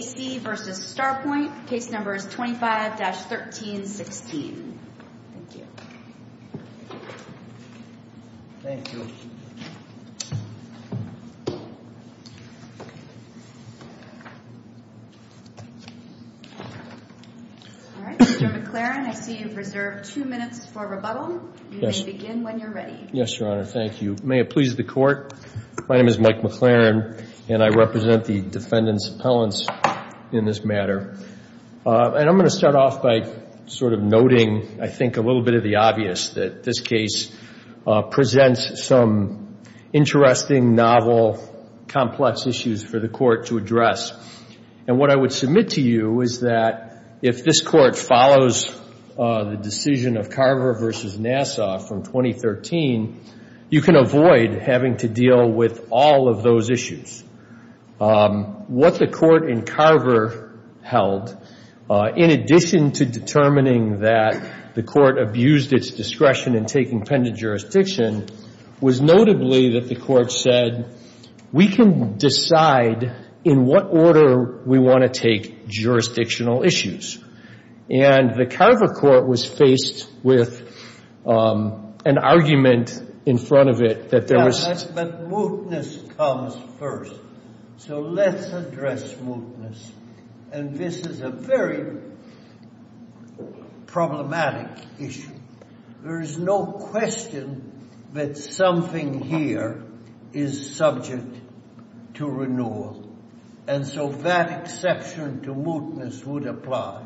A.C. v. Starpoint, case number is 25-1316. Thank you. Thank you. All right, Mr. McLaren, I see you've reserved two minutes for rebuttal. Yes. You may begin when you're ready. Yes, Your Honor, thank you. May it please the Court, my name is Mike McLaren, and I represent the Defendant's Appellants in this matter. And I'm going to start off by sort of noting, I think, a little bit of the obvious, that this case presents some interesting, novel, complex issues for the Court to address. And what I would submit to you is that if this Court follows the decision of Carver v. Nassau from 2013, you can avoid having to deal with all of those issues. What the Court in Carver held, in addition to determining that the Court abused its discretion in taking pendant jurisdiction, was notably that the Court said, we can decide in what order we want to take jurisdictional issues. And the Carver Court was faced with an argument in front of it that there was... But mootness comes first. So let's address mootness. And this is a very problematic issue. There is no question that something here is subject to renewal. And so that exception to mootness would apply.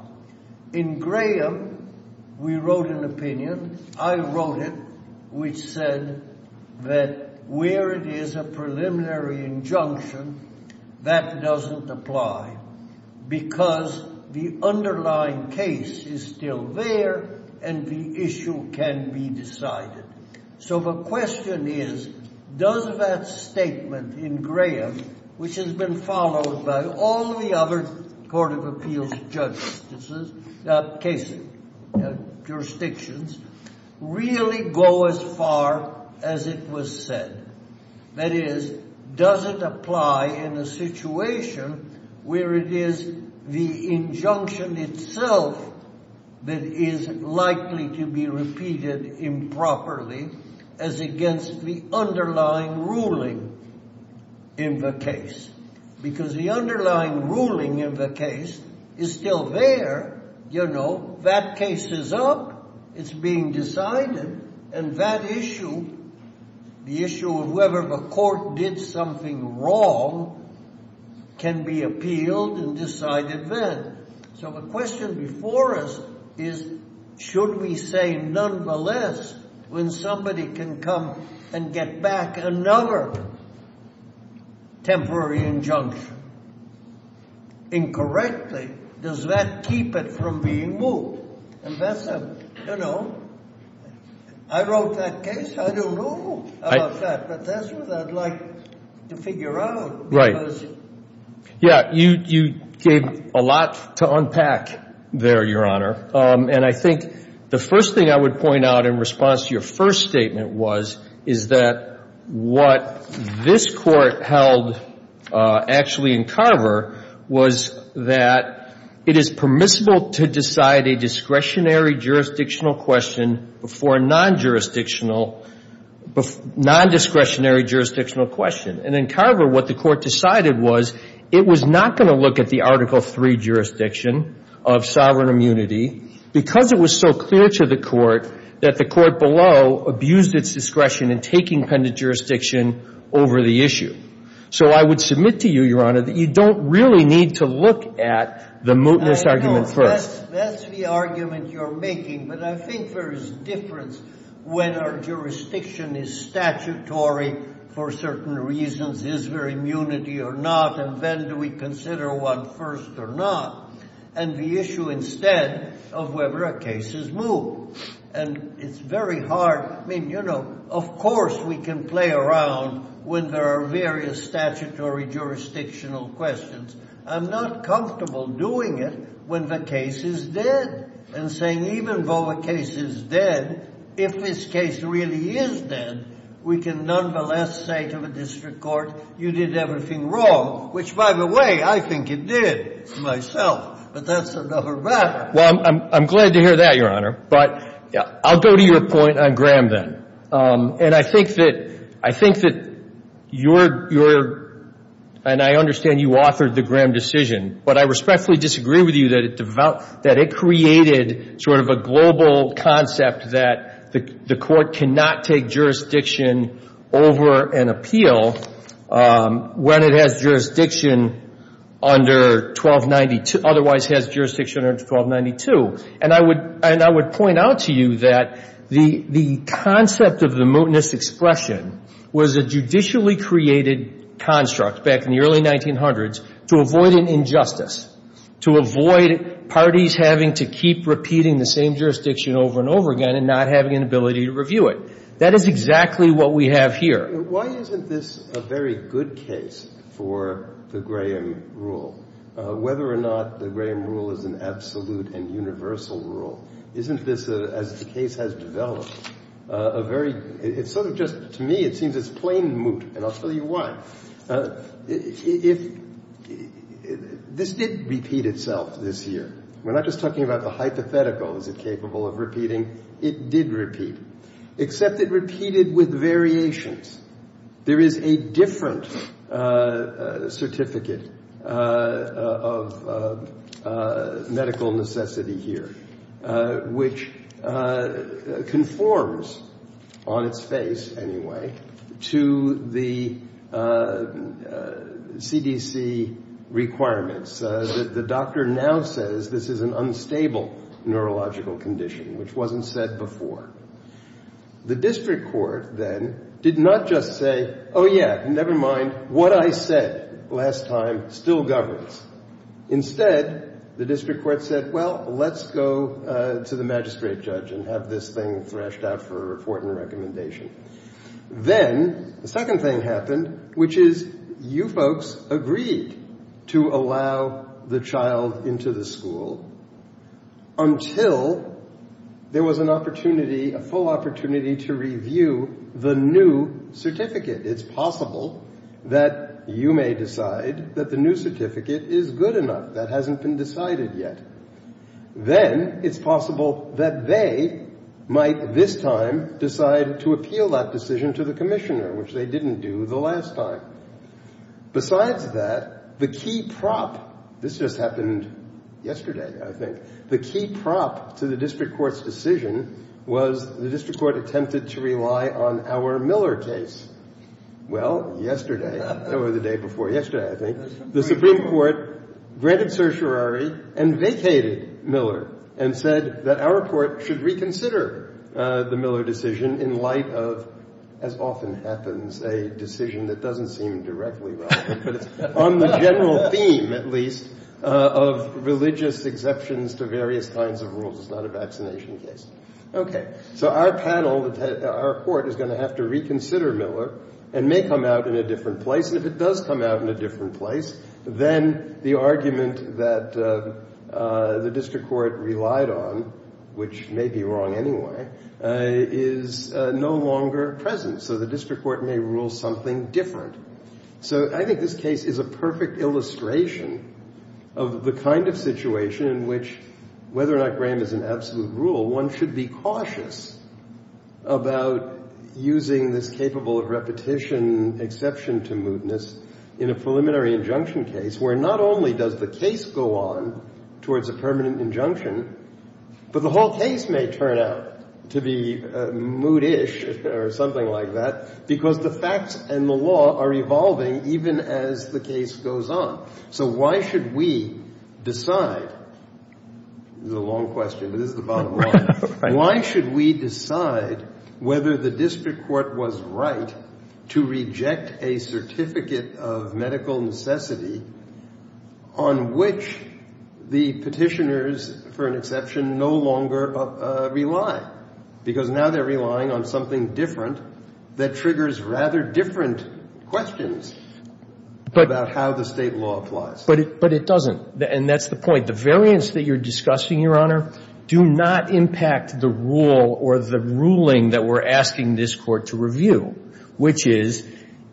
In Graham, we wrote an opinion. I wrote it, which said that where it is a preliminary injunction, that doesn't apply. Because the underlying case is still there, and the issue can be decided. So the question is, does that statement in Graham, which has been followed by all the other Court of Appeals jurisdictions, really go as far as it was said? That is, does it apply in a situation where it is the injunction itself that is likely to be repeated improperly as against the underlying ruling in the case? Because the underlying ruling in the case is still there. You know, that case is up. It's being decided. And that issue, the issue of whether the Court did something wrong, can be appealed and decided then. So the question before us is, should we say, nonetheless, when somebody can come and get back another temporary injunction incorrectly, does that keep it from being moot? And that's a, you know, I wrote that case. I don't know about that. But that's what I'd like to figure out. Right. Yeah, you gave a lot to unpack there, Your Honor. And I think the first thing I would point out in response to your first statement was, is that what this Court held actually in Carver was that it is permissible to decide a discretionary jurisdictional question before a nondiscretionary jurisdictional question. And in Carver, what the Court decided was, it was not going to look at the Article III jurisdiction of sovereign immunity because it was so clear to the Court that the Court below abused its discretion in taking pendant jurisdiction over the issue. So I would submit to you, Your Honor, that you don't really need to look at the mootness argument first. That's the argument you're making. But I think there is difference when our jurisdiction is statutory for certain reasons, is there immunity or not, and then do we consider one first or not, and the issue instead of whether a case is moot. And it's very hard. I mean, you know, of course we can play around when there are various statutory jurisdictional questions. I'm not comfortable doing it when the case is dead and saying even though a case is dead, if this case really is dead, we can nonetheless say to the district court, you did everything wrong, which, by the way, I think it did to myself. But that's another matter. Well, I'm glad to hear that, Your Honor. But I'll go to your point on Graham then. And I think that your – and I understand you authored the Graham decision, but I respectfully disagree with you that it created sort of a global concept that the court cannot take jurisdiction over an appeal when it has jurisdiction under 1292 – otherwise has jurisdiction under 1292. And I would point out to you that the concept of the mootness expression was a judicially created construct back in the early 1900s to avoid an injustice, to avoid parties having to keep repeating the same jurisdiction over and over again and not having an ability to review it. That is exactly what we have here. Why isn't this a very good case for the Graham rule, whether or not the Graham rule is an absolute and universal rule? Isn't this, as the case has developed, a very – it's sort of just – to me it seems it's plain moot, and I'll tell you why. If – this did repeat itself this year. We're not just talking about the hypothetical. Is it capable of repeating? It did repeat, except it repeated with variations. There is a different certificate of medical necessity here, which conforms, on its face anyway, to the CDC requirements. The doctor now says this is an unstable neurological condition, which wasn't said before. The district court then did not just say, oh, yeah, never mind, what I said last time still governs. Instead, the district court said, well, let's go to the magistrate judge and have this thing thrashed out for a report and a recommendation. Then the second thing happened, which is you folks agreed to allow the child into the school until there was an opportunity, a full opportunity to review the new certificate. It's possible that you may decide that the new certificate is good enough. That hasn't been decided yet. Then it's possible that they might this time decide to appeal that decision to the commissioner, which they didn't do the last time. Besides that, the key prop, this just happened yesterday, I think, the key prop to the district court's decision was the district court attempted to rely on our Miller case. Well, yesterday, or the day before yesterday, I think, the Supreme Court granted certiorari and vacated Miller and said that our court should reconsider the Miller decision in light of, as often happens, a decision that doesn't seem directly relevant. But it's on the general theme, at least, of religious exceptions to various kinds of rules. It's not a vaccination case. Okay, so our panel, our court, is going to have to reconsider Miller and may come out in a different place. And if it does come out in a different place, then the argument that the district court relied on, which may be wrong anyway, is no longer present. So the district court may rule something different. So I think this case is a perfect illustration of the kind of situation in which, whether or not Graham is an absolute rule, one should be cautious about using this capable of repetition exception to mootness in a preliminary injunction case where not only does the case go on towards a permanent injunction, but the whole case may turn out to be mootish or something like that because the facts and the law are evolving even as the case goes on. So why should we decide? This is a long question, but this is the bottom line. Why should we decide whether the district court was right to reject a certificate of medical necessity on which the petitioners, for an exception, no longer rely? Because now they're relying on something different that triggers rather different questions about how the state law applies. But it doesn't. And that's the point. The variance that you're discussing, Your Honor, do not impact the rule or the ruling that we're asking this Court to review, which is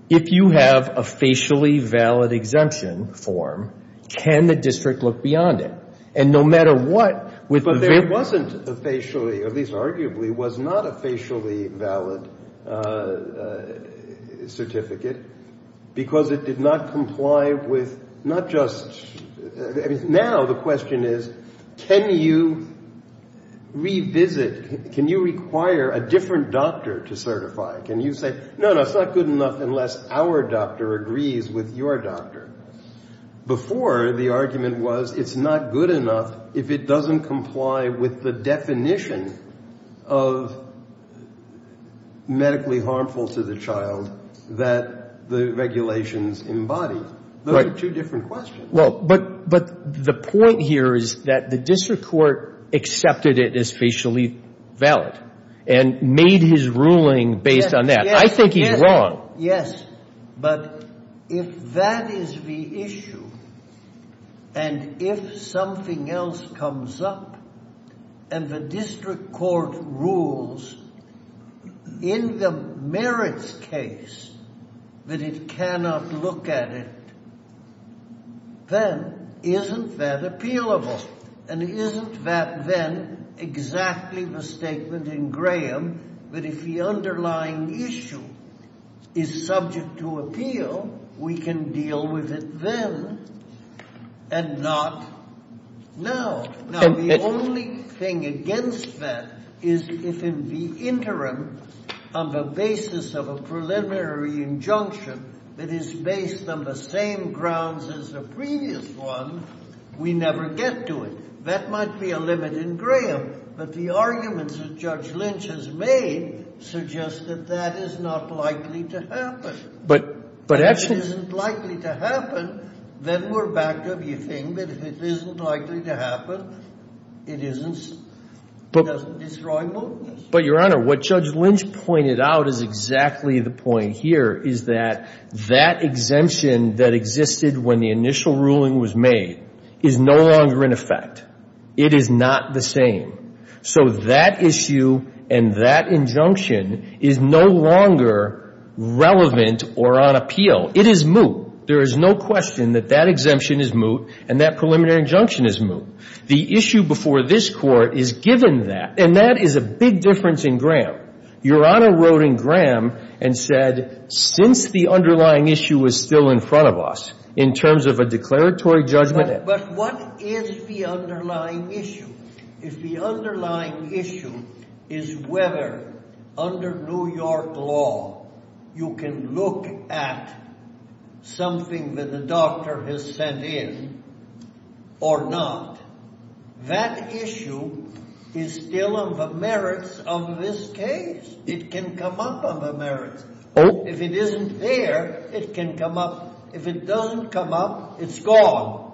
if you have a facially valid exemption form, can the district look beyond it? And no matter what, with the very ---- But there wasn't a facially, at least arguably, was not a facially valid certificate because it did not comply with not just ---- Now the question is can you revisit, can you require a different doctor to certify? Can you say, no, no, it's not good enough unless our doctor agrees with your doctor? Before, the argument was it's not good enough if it doesn't comply with the definition of medically harmful to the child that the regulations embody. Those are two different questions. But the point here is that the district court accepted it as facially valid and made his ruling based on that. I think he's wrong. Yes. But if that is the issue and if something else comes up and the district court rules in the merits case that it cannot look at it, then isn't that appealable? And isn't that then exactly the statement in Graham that if the underlying issue is subject to appeal, we can deal with it then and not now? Now, the only thing against that is if in the interim on the basis of a preliminary injunction that is based on the same grounds as the previous one, we never get to it. That might be a limit in Graham, but the arguments that Judge Lynch has made suggest that that is not likely to happen. But actually ---- It doesn't destroy mootness. But, Your Honor, what Judge Lynch pointed out is exactly the point here, is that that exemption that existed when the initial ruling was made is no longer in effect. It is not the same. So that issue and that injunction is no longer relevant or on appeal. It is moot. There is no question that that exemption is moot and that preliminary injunction is moot. The issue before this Court is given that. And that is a big difference in Graham. Your Honor wrote in Graham and said since the underlying issue is still in front of us in terms of a declaratory judgment ---- But what is the underlying issue? If the underlying issue is whether under New York law you can look at something that the doctor has sent in or not, that issue is still on the merits of this case. It can come up on the merits. If it isn't there, it can come up. If it doesn't come up, it's gone.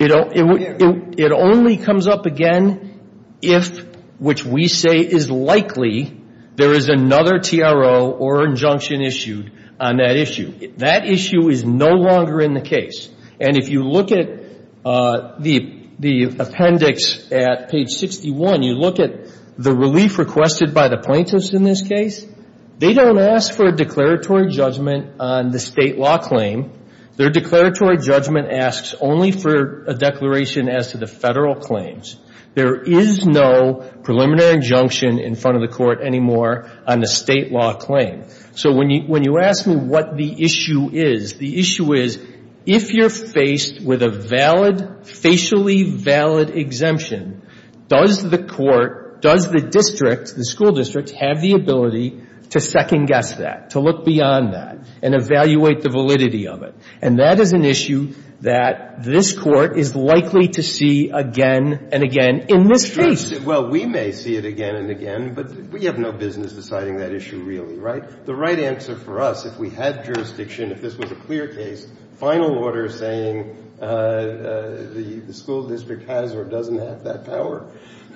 It only comes up again if, which we say is likely, there is another TRO or injunction issued on that issue. That issue is no longer in the case. And if you look at the appendix at page 61, you look at the relief requested by the plaintiffs in this case, they don't ask for a declaratory judgment on the State law claim. Their declaratory judgment asks only for a declaration as to the Federal claims. There is no preliminary injunction in front of the Court anymore on the State law claim. So when you ask me what the issue is, the issue is if you're faced with a valid, facially valid exemption, does the Court, does the district, the school district, have the ability to second guess that, to look beyond that and evaluate the validity of it? And that is an issue that this Court is likely to see again and again in this case. Well, we may see it again and again, but we have no business deciding that issue really, right? The right answer for us, if we had jurisdiction, if this was a clear case, final order saying the school district has or doesn't have that power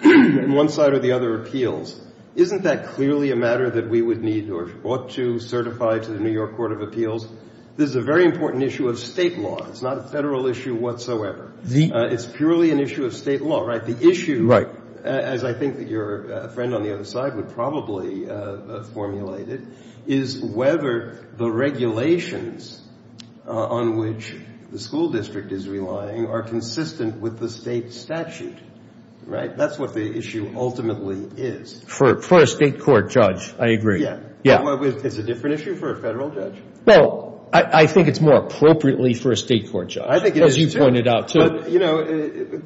in one side or the other appeals, isn't that clearly a matter that we would need or ought to certify to the New York Court of Appeals? This is a very important issue of State law. It's not a Federal issue whatsoever. It's purely an issue of State law, right? The issue, as I think your friend on the other side would probably formulate it, is whether the regulations on which the school district is relying are consistent with the State statute, right? That's what the issue ultimately is. For a State court judge, I agree. It's a different issue for a Federal judge. Well, I think it's more appropriately for a State court judge. I think it is, too. As you pointed out, too. But, you know,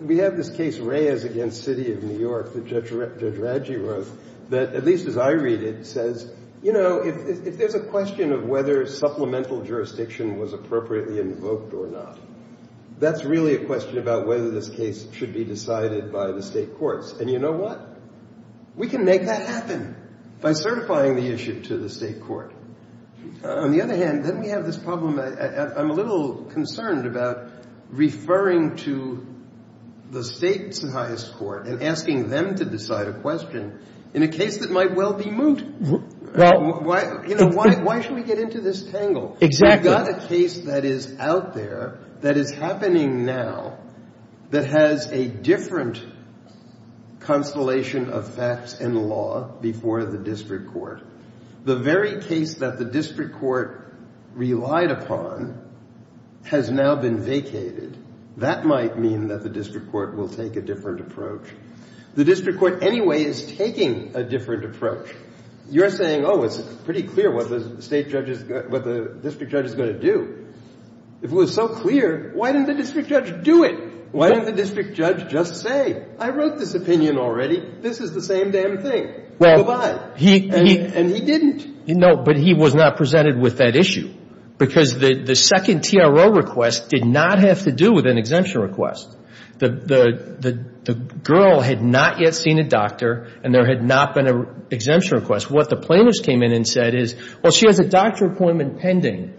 we have this case, Reyes v. City of New York, that Judge Radji wrote, that at least as I read it, says, you know, if there's a question of whether supplemental jurisdiction was appropriately invoked or not, that's really a question about whether this case should be decided by the State courts. And you know what? We can make that happen by certifying the issue to the State court. On the other hand, then we have this problem. I'm a little concerned about referring to the State's highest court and asking them to decide a question in a case that might well be moot. Why should we get into this tangle? Exactly. I've got a case that is out there that is happening now that has a different constellation of facts and law before the district court. The very case that the district court relied upon has now been vacated. That might mean that the district court will take a different approach. The district court anyway is taking a different approach. You're saying, oh, it's pretty clear what the district judge is going to do. If it was so clear, why didn't the district judge do it? Why didn't the district judge just say, I wrote this opinion already. This is the same damn thing. And he didn't. No, but he was not presented with that issue because the second TRO request did not have to do with an exemption request. The girl had not yet seen a doctor, and there had not been an exemption request. What the plaintiffs came in and said is, well, she has a doctor appointment pending.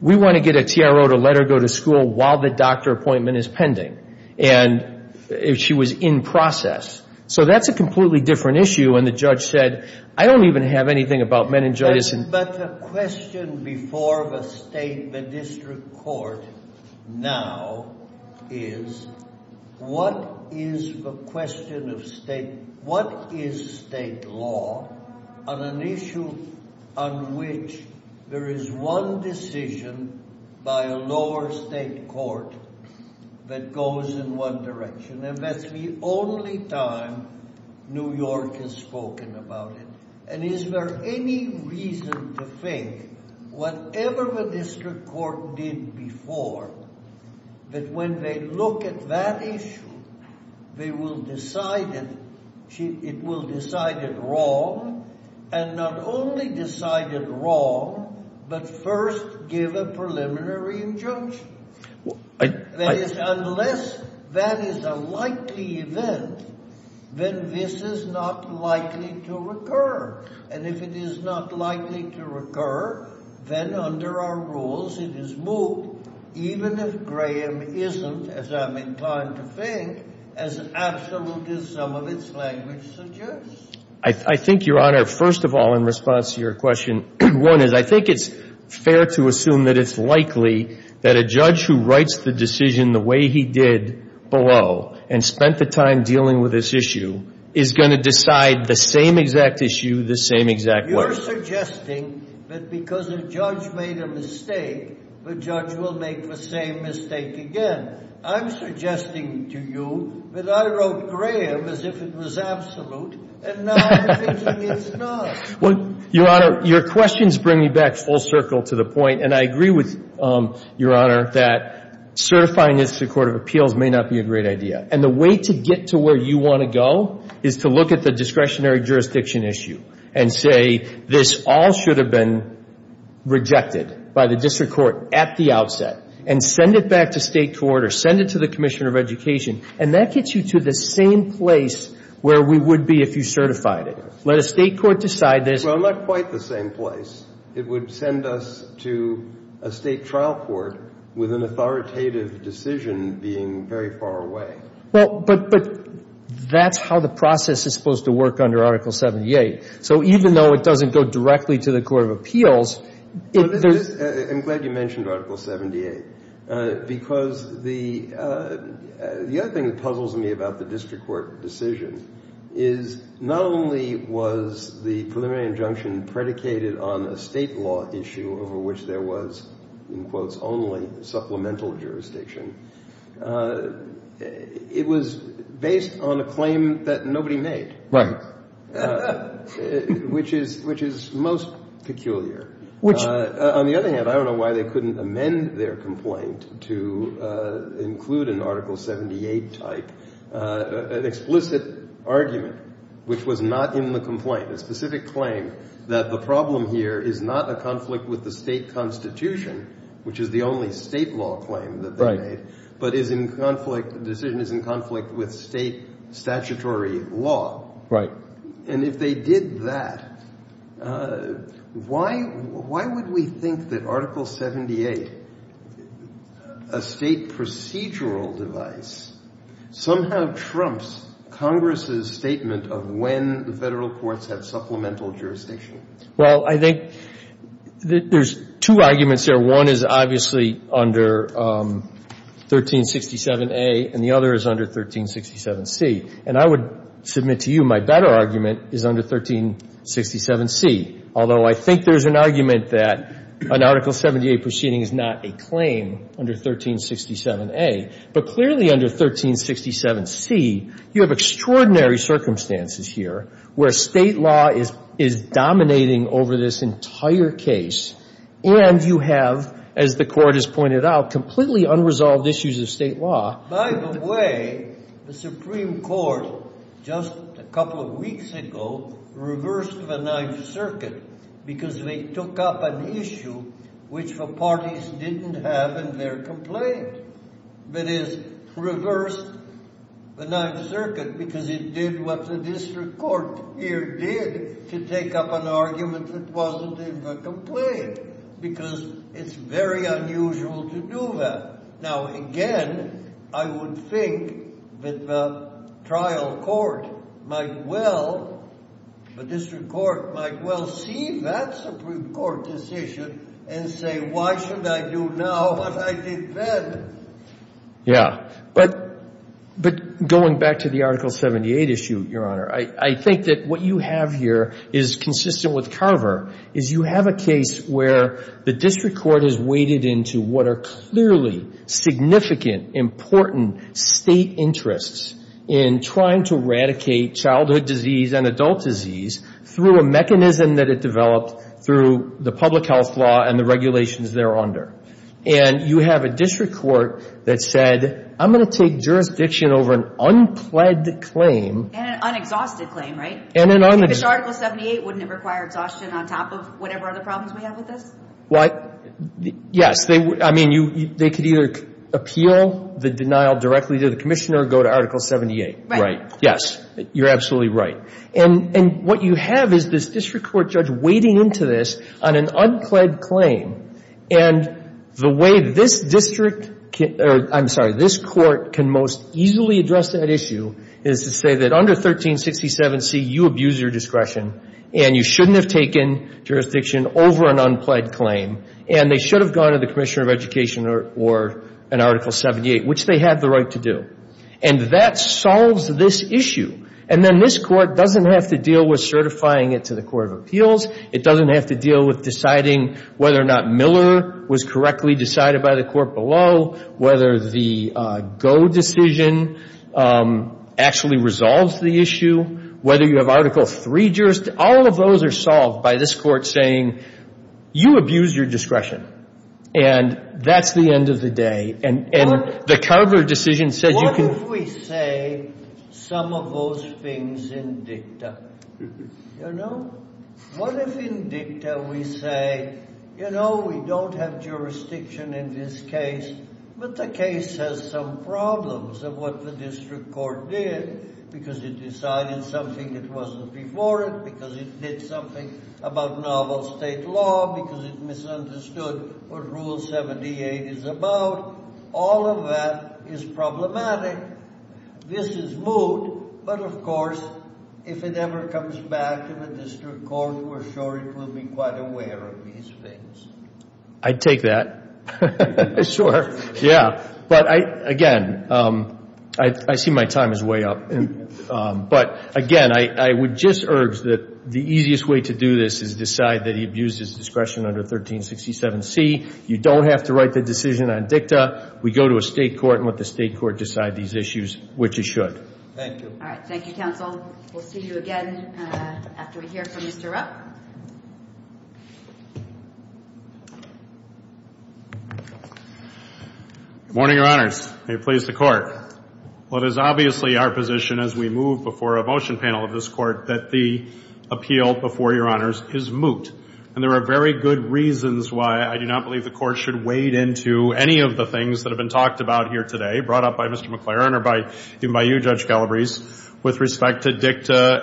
We want to get a TRO to let her go to school while the doctor appointment is pending. And she was in process. So that's a completely different issue. And the judge said, I don't even have anything about meningitis. But the question before the state, the district court now is, what is the question of state, what is state law on an issue on which there is one decision by a lower state court that goes in one direction? And that's the only time New York has spoken about it. And is there any reason to think, whatever the district court did before, that when they look at that issue, it will decide it wrong, and not only decide it wrong, but first give a preliminary injunction? That is, unless that is a likely event, then this is not likely to occur. And if it is not likely to occur, then under our rules, it is moved, even if Graham isn't, as I'm inclined to think, as absolute as some of its language suggests. I think, Your Honor, first of all, in response to your question, one is I think it's fair to assume that it's likely that a judge who writes the decision the way he did below and spent the time dealing with this issue is going to decide the same exact issue the same exact way. You're suggesting that because a judge made a mistake, the judge will make the same mistake again. I'm suggesting to you that I wrote Graham as if it was absolute, and now I'm thinking it's not. Well, Your Honor, your questions bring me back full circle to the point, and I agree with Your Honor that certifying this to the Court of Appeals may not be a great idea. And the way to get to where you want to go is to look at the discretionary jurisdiction issue and say this all should have been rejected by the district court at the outset, and send it back to state court or send it to the commissioner of education, and that gets you to the same place where we would be if you certified it. Let a state court decide this. Well, not quite the same place. It would send us to a state trial court with an authoritative decision being very far away. Well, but that's how the process is supposed to work under Article 78. So even though it doesn't go directly to the Court of Appeals, it does. I'm glad you mentioned Article 78 because the other thing that puzzles me about the district court decision is not only was the preliminary injunction predicated on a state law issue over which there was, in quotes, only supplemental jurisdiction, it was based on a claim that nobody made. Which is most peculiar. On the other hand, I don't know why they couldn't amend their complaint to include an Article 78 type, an explicit argument which was not in the complaint, a specific claim that the problem here is not a conflict with the state constitution, which is the only state law claim that they made, but is in conflict, the decision is in conflict with state statutory law. Right. And if they did that, why would we think that Article 78, a state procedural device, somehow trumps Congress's statement of when the Federal courts have supplemental jurisdiction? Well, I think there's two arguments here. One is obviously under 1367A and the other is under 1367C. And I would submit to you my better argument is under 1367C, although I think there's an argument that an Article 78 proceeding is not a claim under 1367A. But clearly under 1367C, you have extraordinary circumstances here where state law is dominating over this entire case and you have, as the Court has pointed out, completely unresolved issues of state law. By the way, the Supreme Court, just a couple of weeks ago, reversed the Ninth Circuit because they took up an issue which the parties didn't have in their complaint. That is, reversed the Ninth Circuit because it did what the district court here did to take up an argument that wasn't in the complaint, because it's very unusual to do that. Now, again, I would think that the trial court might well, the district court might well see that Supreme Court decision and say, why should I do now what I did then? Yeah. But going back to the Article 78 issue, Your Honor, I think that what you have here is consistent with Carver, is you have a case where the district court has waded into what are clearly significant, important state interests in trying to eradicate childhood disease and adult disease through a mechanism that it developed through the public health law and the regulations thereunder. And you have a district court that said, I'm going to take jurisdiction over an unpled claim. And an unexhausted claim, right? And an unexhausted claim. Which Article 78 wouldn't have required exhaustion on top of whatever other problems we have with this? What? Yes. I mean, they could either appeal the denial directly to the commissioner or go to Article 78. Right. Yes. You're absolutely right. And what you have is this district court judge wading into this on an unpled claim. And the way this district, or I'm sorry, this court can most easily address that issue is to say that under 1367C, you abuse your discretion and you shouldn't have taken jurisdiction over an unpled claim and they should have gone to the commissioner of education or an Article 78, which they have the right to do. And that solves this issue. And then this court doesn't have to deal with certifying it to the Court of Appeals. It doesn't have to deal with deciding whether or not Miller was correctly decided by the court below, whether the Go decision actually resolves the issue, whether you have Article 3 jurisdiction. All of those are solved by this court saying, you abused your discretion. And that's the end of the day. And the Cudler decision says you can. What if we say some of those things in dicta? You know? What if in dicta we say, you know, we don't have jurisdiction in this case, but the case has some problems of what the district court did because it decided something that wasn't before it, because it did something about novel state law, because it misunderstood what Rule 78 is about. All of that is problematic. This is moot. But, of course, if it ever comes back to the district court, we're sure it will be quite aware of these things. I'd take that. Sure. Yeah. But, again, I see my time is way up. But, again, I would just urge that the easiest way to do this is decide that he abused his discretion under 1367C. You don't have to write the decision on dicta. We go to a state court and let the state court decide these issues, which it should. Thank you. All right. Thank you, counsel. We'll see you again after we hear from Mr. Rupp. Good morning, Your Honors. May it please the Court. Well, it is obviously our position as we move before a motion panel of this Court that the appeal before Your Honors is moot. And there are very good reasons why I do not believe the Court should wade into any of the things that have been talked about here today, brought up by Mr. McLaren or by you, Judge Galbraith, with respect to dicta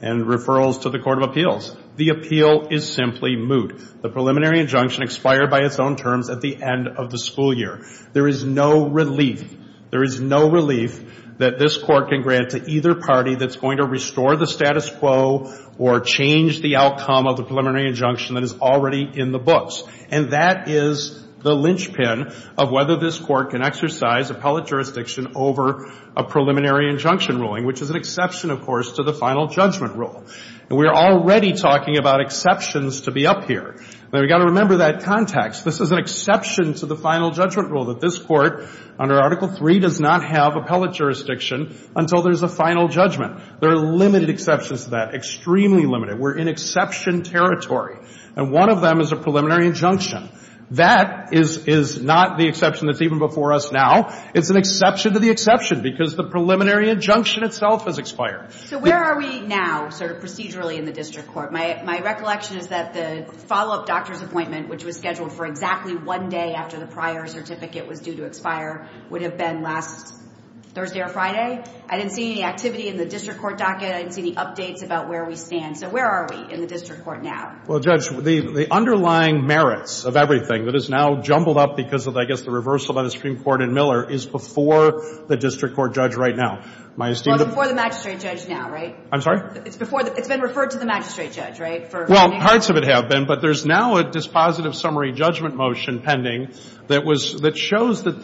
and referrals to the Court of Appeals. The appeal is simply moot. The preliminary injunction expired by its own terms at the end of the school year. There is no relief. There is no relief that this Court can grant to either party that's going to restore the status quo or change the outcome of the preliminary injunction that is already in the books. And that is the linchpin of whether this Court can exercise appellate jurisdiction over a preliminary injunction ruling, which is an exception, of course, to the final judgment rule. And we are already talking about exceptions to be up here. Now, we've got to remember that context. This is an exception to the final judgment rule, that this Court under Article III does not have appellate jurisdiction until there's a final judgment. There are limited exceptions to that, extremely limited. We're in exception territory. And one of them is a preliminary injunction. That is not the exception that's even before us now. It's an exception to the exception because the preliminary injunction itself has expired. So where are we now sort of procedurally in the district court? My recollection is that the follow-up doctor's appointment, which was scheduled for exactly one day after the prior certificate was due to expire, would have been last Thursday or Friday. I didn't see any activity in the district court docket. I didn't see any updates about where we stand. So where are we in the district court now? Well, Judge, the underlying merits of everything that has now jumbled up because of, I guess, the reversal by the Supreme Court in Miller is before the district court judge right now. Well, it's before the magistrate judge now, right? I'm sorry? It's been referred to the magistrate judge, right? Well, parts of it have been, but there's now a dispositive summary judgment motion pending that shows that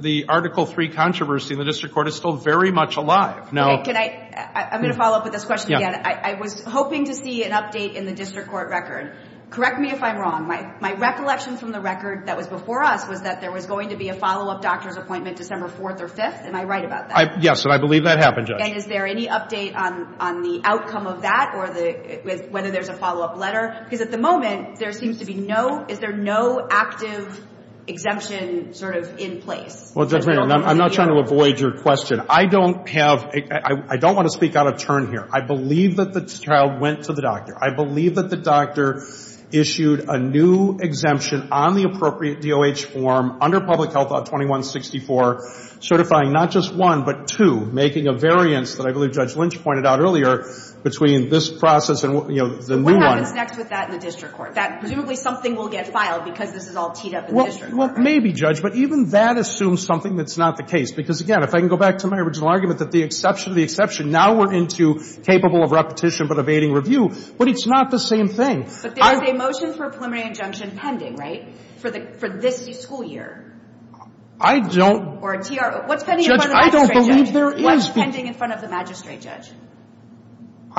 the Article III controversy in the district court is still very much alive. I'm going to follow up with this question again. I was hoping to see an update in the district court record. Correct me if I'm wrong. My recollection from the record that was before us was that there was going to be a follow-up doctor's appointment December 4th or 5th. Am I right about that? Yes, and I believe that happened, Judge. And is there any update on the outcome of that or whether there's a follow-up letter? Because at the moment, there seems to be no – is there no active exemption sort of in place? Well, Judge Maynard, I'm not trying to avoid your question. I don't have – I don't want to speak out of turn here. I believe that the child went to the doctor. I believe that the doctor issued a new exemption on the appropriate DOH form under Public Health Act 2164 certifying not just one but two, making a variance that I believe Judge Lynch pointed out earlier between this process and the new one. What happens next with that in the district court? Presumably something will get filed because this is all teed up in the district court, right? Well, maybe, Judge, but even that assumes something that's not the case because, again, if I can go back to my original argument that the exception to the exception, now we're into capable of repetition but evading review, but it's not the same thing. But there is a motion for a preliminary injunction pending, right, for the – for this school year? I don't – Or a TRO – what's pending in front of the magistrate judge? Judge, I don't believe there is – What's pending in front of the magistrate judge?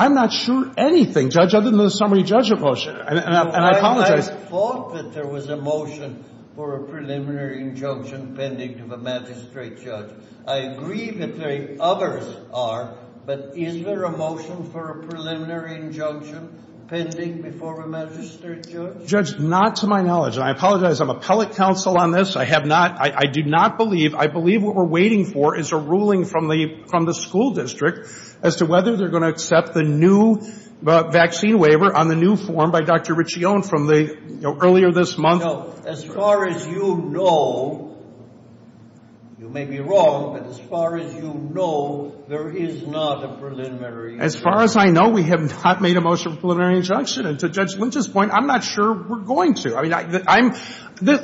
I'm not sure anything, Judge, other than the summary judgment motion, and I apologize. I thought that there was a motion for a preliminary injunction pending to the magistrate judge. I agree that there others are, but is there a motion for a preliminary injunction pending before a magistrate judge? Judge, not to my knowledge, and I apologize. I'm appellate counsel on this. I have not – I do not believe – I believe what we're waiting for is a ruling from the – from the school district as to whether they're going to accept the new vaccine waiver on the new form by Dr. Riccione from the – earlier this month. As far as you know – you may be wrong, but as far as you know, there is not a preliminary injunction. As far as I know, we have not made a motion for a preliminary injunction, and to Judge Lynch's point, I'm not sure we're going to. I mean, I'm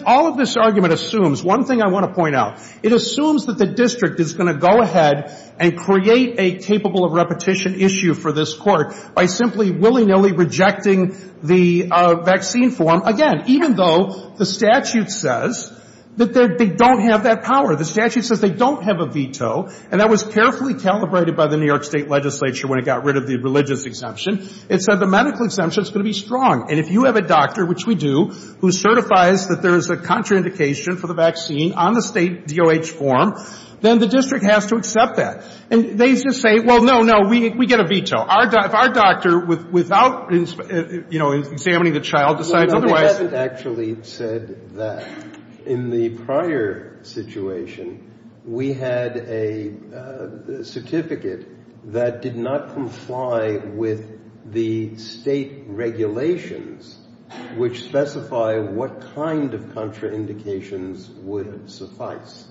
– all of this argument assumes – one thing I want to point out. It assumes that the district is going to go ahead and create a capable of repetition issue for this court by simply willy-nilly rejecting the vaccine form, again, even though the statute says that they don't have that power. The statute says they don't have a veto, and that was carefully calibrated by the New York State legislature when it got rid of the religious exemption. It said the medical exemption is going to be strong, and if you have a doctor, which we do, who certifies that there is a contraindication for the vaccine on the state DOH form, then the district has to accept that. And they just say, well, no, no, we get a veto. Our doctor, without, you know, examining the child, decides otherwise. They haven't actually said that. In the prior situation, we had a certificate that did not comply with the state regulations, which specify what kind of contraindications would suffice.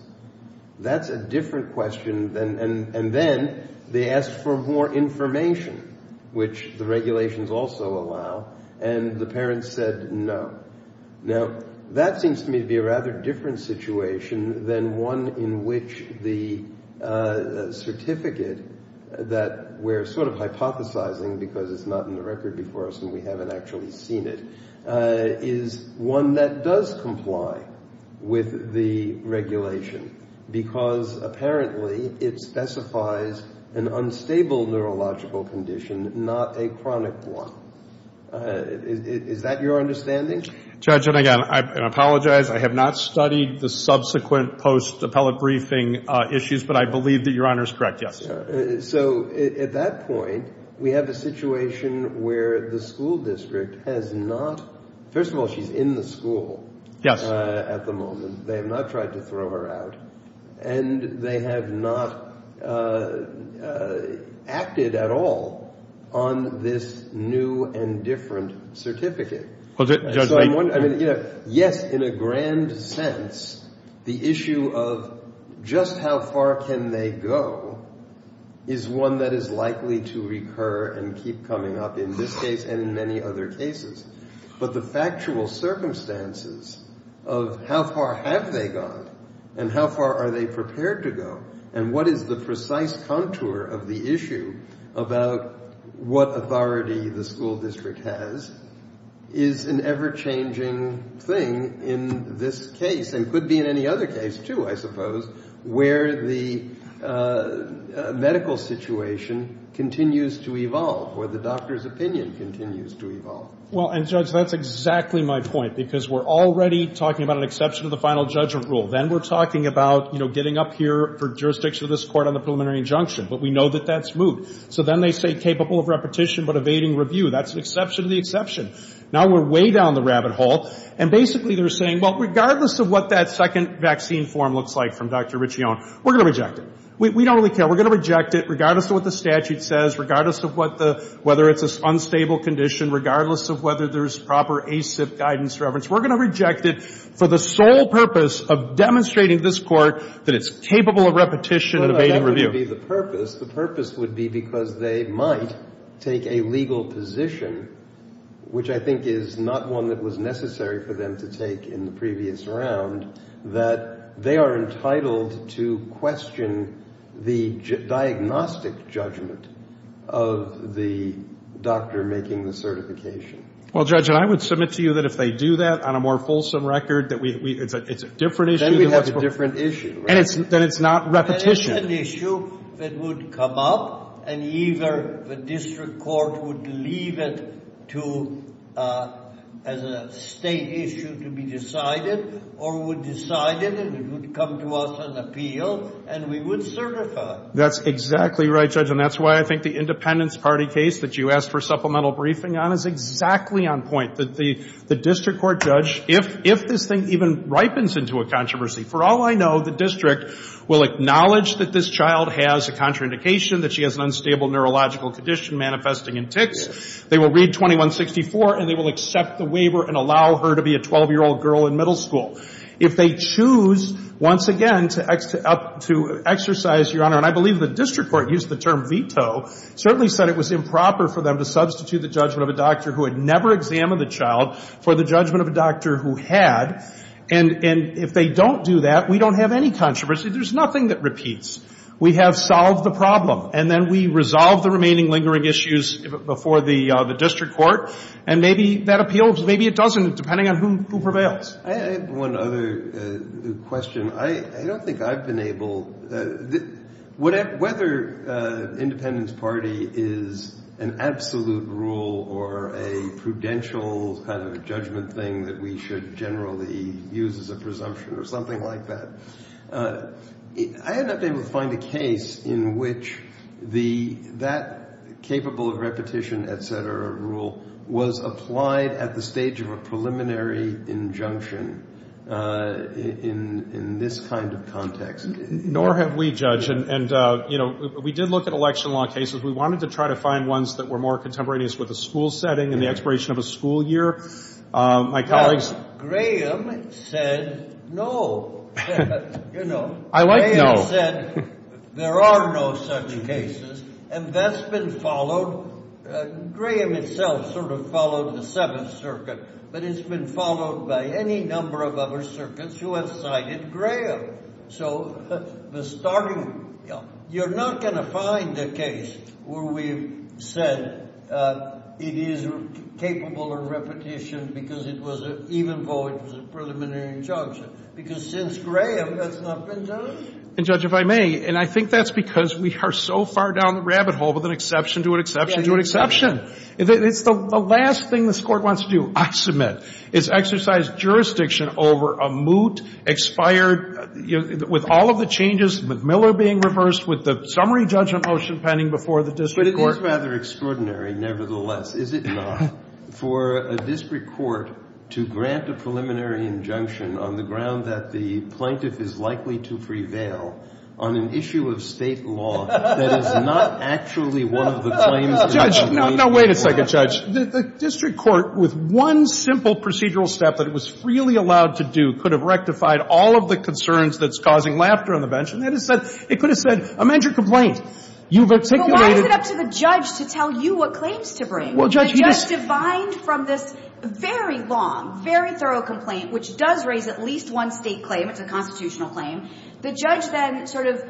That's a different question, and then they asked for more information, which the regulations also allow, and the parents said no. Now, that seems to me to be a rather different situation than one in which the certificate that we're sort of hypothesizing, because it's not in the record before us and we haven't actually seen it, is one that does comply with the regulation, because apparently it specifies an unstable neurological condition, not a chronic one. Is that your understanding? Judge, and again, I apologize. I have not studied the subsequent post-appellate briefing issues, but I believe that Your Honor is correct, yes. So at that point, we have a situation where the school district has not – first of all, she's in the school at the moment. They have not tried to throw her out, and they have not acted at all on this new and different certificate. Yes, in a grand sense, the issue of just how far can they go is one that is likely to recur and keep coming up in this case and in many other cases. But the factual circumstances of how far have they gone and how far are they prepared to go and what is the precise contour of the issue about what authority the school district has is an ever-changing thing in this case and could be in any other case, too, I suppose, where the medical situation continues to evolve, where the doctor's opinion continues to evolve. Well, and Judge, that's exactly my point, because we're already talking about an exception to the final judgment rule. Then we're talking about, you know, getting up here for jurisdiction of this court on the preliminary injunction. But we know that that's moot. So then they say capable of repetition but evading review. That's an exception to the exception. Now we're way down the rabbit hole. And basically they're saying, well, regardless of what that second vaccine form looks like from Dr. Riccione, we're going to reject it. We don't really care. We're going to reject it regardless of what the statute says, regardless of whether it's an unstable condition, regardless of whether there's proper ACIP guidance reference. We're going to reject it for the sole purpose of demonstrating to this court that it's capable of repetition and evading review. Well, that wouldn't be the purpose. The purpose would be because they might take a legal position, which I think is not one that was necessary for them to take in the previous round, that they are entitled to question the diagnostic judgment of the doctor making the certification. Well, Judge, I would submit to you that if they do that on a more fulsome record, that it's a different issue. Then we have a different issue. Then it's not repetition. That is an issue that would come up, and either the district court would leave it as a state issue to be decided, or would decide it and it would come to us on appeal, and we would certify. That's exactly right, Judge. And that's why I think the Independence Party case that you asked for supplemental briefing on is exactly on point. The district court judge, if this thing even ripens into a controversy, for all I know, the district will acknowledge that this child has a contraindication, that she has an unstable neurological condition manifesting in tics. They will read 2164, and they will accept the waiver and allow her to be a 12-year-old girl in middle school. If they choose, once again, to exercise, Your Honor, and I believe the district court used the term veto, certainly said it was improper for them to substitute the judgment of a doctor who had never examined the child for the judgment of a doctor who had. And if they don't do that, we don't have any controversy. There's nothing that repeats. We have solved the problem. And then we resolve the remaining lingering issues before the district court, and maybe that appeals. Maybe it doesn't, depending on who prevails. I have one other question. I don't think I've been able to – whether the Independence Party is an absolute rule or a prudential kind of judgment thing that we should generally use as a presumption or something like that, I haven't been able to find a case in which that capable of repetition, et cetera, rule, was applied at the stage of a preliminary injunction in this kind of context. Nor have we, Judge. And, you know, we did look at election law cases. We wanted to try to find ones that were more contemporaneous with a school setting and the expiration of a school year. My colleagues – Well, Graham said no. You know. I like no. Graham said there are no such cases, and that's been followed. Graham itself sort of followed the Seventh Circuit, but it's been followed by any number of other circuits who have cited Graham. So the starting – you're not going to find a case where we've said it is capable of repetition because it was even though it was a preliminary injunction because since Graham, that's not been done. And, Judge, if I may, and I think that's because we are so far down the rabbit hole with an exception to an exception to an exception. It's the last thing this Court wants to do, I submit, is exercise jurisdiction over a moot, expired, with all of the changes, with Miller being reversed, with the summary judgment motion pending before the district court. But it is rather extraordinary, nevertheless, is it not, for a district court to grant a preliminary injunction on the ground that the plaintiff is likely to prevail on an issue of State law that is not actually one of the claims that have been made. Judge, now wait a second, Judge. The district court, with one simple procedural step that it was freely allowed to do, could have rectified all of the concerns that's causing laughter on the bench, and it could have said, amend your complaint. You've articulated – Well, why is it up to the judge to tell you what claims to bring? Well, Judge, he just – The judge, defined from this very long, very thorough complaint, which does raise at least one State claim, it's a constitutional claim, the judge then sort of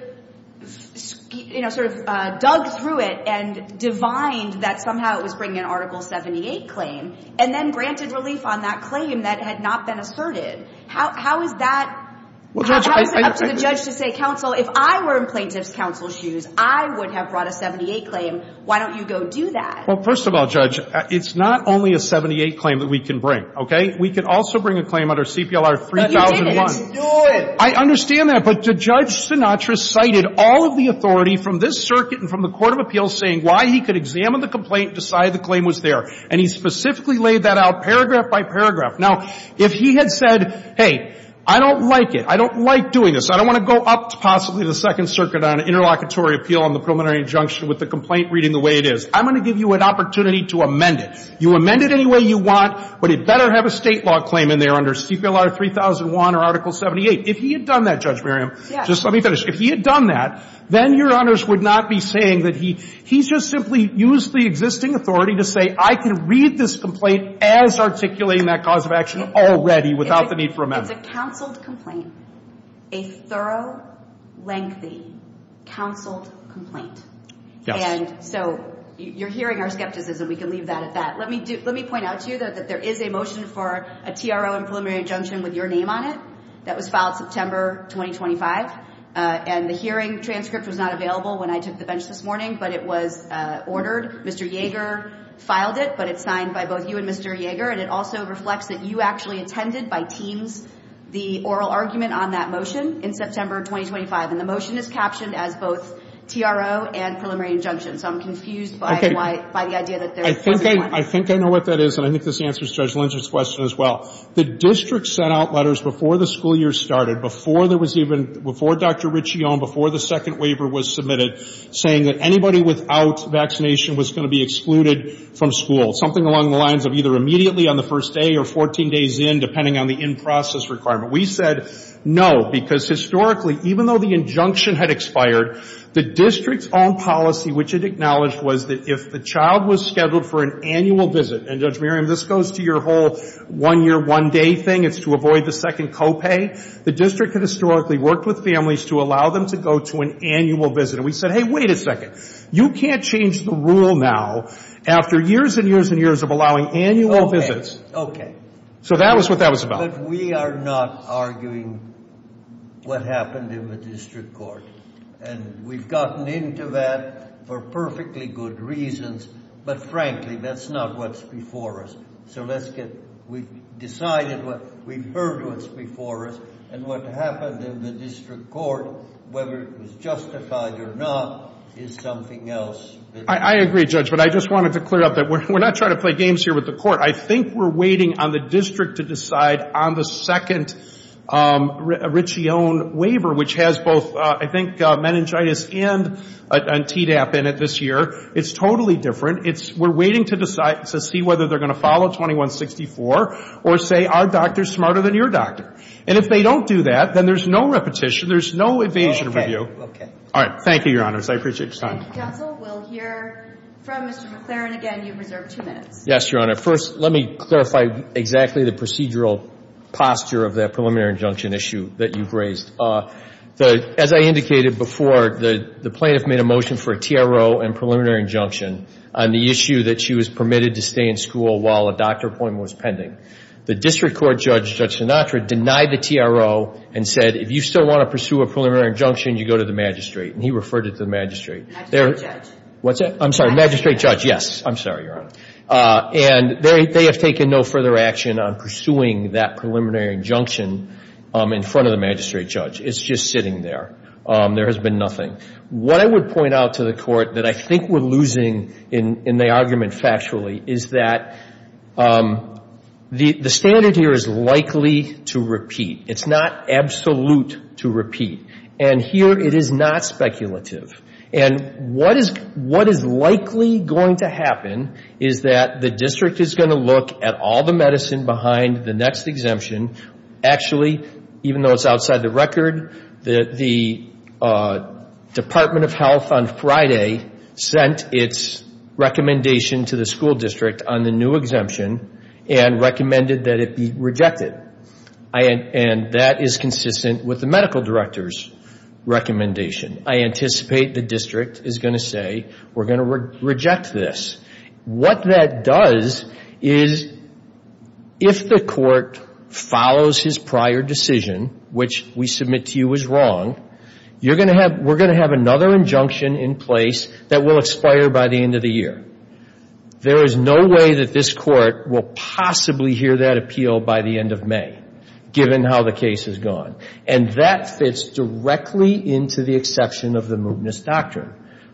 dug through it and divined that somehow it was bringing an Article 78 claim, and then granted relief on that claim that had not been asserted. How is that – Well, Judge – How is it up to the judge to say, counsel, if I were in plaintiff's counsel's shoes, I would have brought a 78 claim. Why don't you go do that? Well, first of all, Judge, it's not only a 78 claim that we can bring, okay? We can also bring a claim under CPLR 3001. But you didn't. You didn't do it. I understand that. But Judge Sinatra cited all of the authority from this circuit and from the court of appeals saying why he could examine the complaint, decide the claim was there. And he specifically laid that out paragraph by paragraph. Now, if he had said, hey, I don't like it, I don't like doing this, I don't want to go up to possibly the Second Circuit on an interlocutory appeal on the preliminary injunction with the complaint reading the way it is, I'm going to give you an opportunity to amend it. You amend it any way you want, but it better have a State law claim in there under CPLR 3001 or Article 78. If he had done that, Judge Miriam. Yes. Just let me finish. If he had done that, then Your Honors would not be saying that he's just simply used the existing authority to say I can read this complaint as articulating that cause of action already without the need for amendment. It's a counseled complaint, a thorough, lengthy, counseled complaint. Yes. And so you're hearing our skepticism. We can leave that at that. Let me point out to you that there is a motion for a TRO and preliminary injunction with your name on it that was filed September 2025. And the hearing transcript was not available when I took the bench this morning, but it was ordered. Mr. Yeager filed it, but it's signed by both you and Mr. Yeager. And it also reflects that you actually attended by teams the oral argument on that motion in September 2025. And the motion is captioned as both TRO and preliminary injunction. So I'm confused by the idea that there was one. I think I know what that is, and I think this answers Judge Lindstrom's question as well. The district sent out letters before the school year started, before there was even Dr. Riccione, before the second waiver was submitted saying that anybody without vaccination was going to be excluded from school, something along the lines of either immediately on the first day or 14 days in, depending on the in-process requirement. We said no, because historically, even though the injunction had expired, the district's own policy, which it acknowledged was that if the child was scheduled for an annual visit, and Judge Merriam, this goes to your whole one-year, one-day thing, it's to avoid the second co-pay, the district had historically worked with families to allow them to go to an annual visit. And we said, hey, wait a second. You can't change the rule now after years and years and years of allowing annual visits. Okay. So that was what that was about. But we are not arguing what happened in the district court. And we've gotten into that for perfectly good reasons. But frankly, that's not what's before us. So let's get, we've decided what, we've heard what's before us. And what happened in the district court, whether it was justified or not, is something else. I agree, Judge. But I just wanted to clear up that we're not trying to play games here with the court. I think we're waiting on the district to decide on the second Riccione waiver, which has both, I think, meningitis and Tdap in it this year. It's totally different. We're waiting to decide, to see whether they're going to follow 2164 or say, our doctor's smarter than your doctor. And if they don't do that, then there's no repetition, there's no evasion of review. All right. Thank you, Your Honors. I appreciate your time. Counsel, we'll hear from Mr. McClaren again. You have reserved two minutes. Yes, Your Honor. First, let me clarify exactly the procedural posture of that preliminary injunction issue that you've raised. As I indicated before, the plaintiff made a motion for a TRO and preliminary injunction on the issue that she was permitted to stay in school while a doctor appointment was pending. The district court judge, Judge Sinatra, denied the TRO and said, if you still want to pursue a preliminary injunction, you go to the magistrate. And he referred it to the magistrate. Magistrate judge. What's that? I'm sorry. Magistrate judge, yes. I'm sorry, Your Honor. And they have taken no further action on pursuing that preliminary injunction in front of the magistrate judge. It's just sitting there. There has been nothing. What I would point out to the Court that I think we're losing in the argument factually is that the standard here is likely to repeat. It's not absolute to repeat. And here it is not speculative. And what is likely going to happen is that the district is going to look at all the Actually, even though it's outside the record, the Department of Health on Friday sent its recommendation to the school district on the new exemption and recommended that it be rejected. And that is consistent with the medical director's recommendation. I anticipate the district is going to say, we're going to reject this. What that does is, if the Court follows his prior decision, which we submit to you was wrong, you're going to have we're going to have another injunction in place that will expire by the end of the year. There is no way that this Court will possibly hear that appeal by the end of May, given how the case has gone. And that fits directly into the exception of the Mubna's doctrine.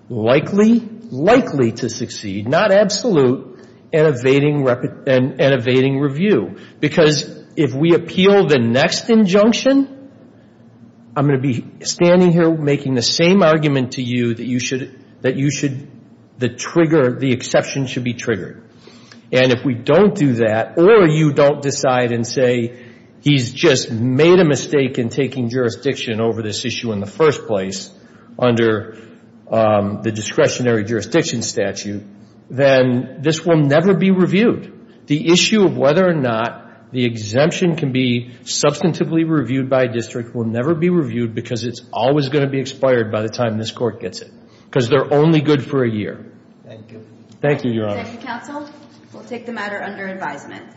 Likely, likely to succeed, not absolute, and evading review. Because if we appeal the next injunction, I'm going to be standing here making the same argument to you that you should that you should the trigger the exception should be triggered. And if we don't do that, or you don't decide and say he's just made a mistake in taking jurisdiction over this issue in the first place under the discretionary jurisdiction statute, then this will never be reviewed. The issue of whether or not the exemption can be substantively reviewed by a district will never be reviewed because it's always going to be expired by the time this Court gets it. Because they're only good for a year. Thank you. Thank you, Your Honor. Thank you, counsel. We'll take the matter under advisement.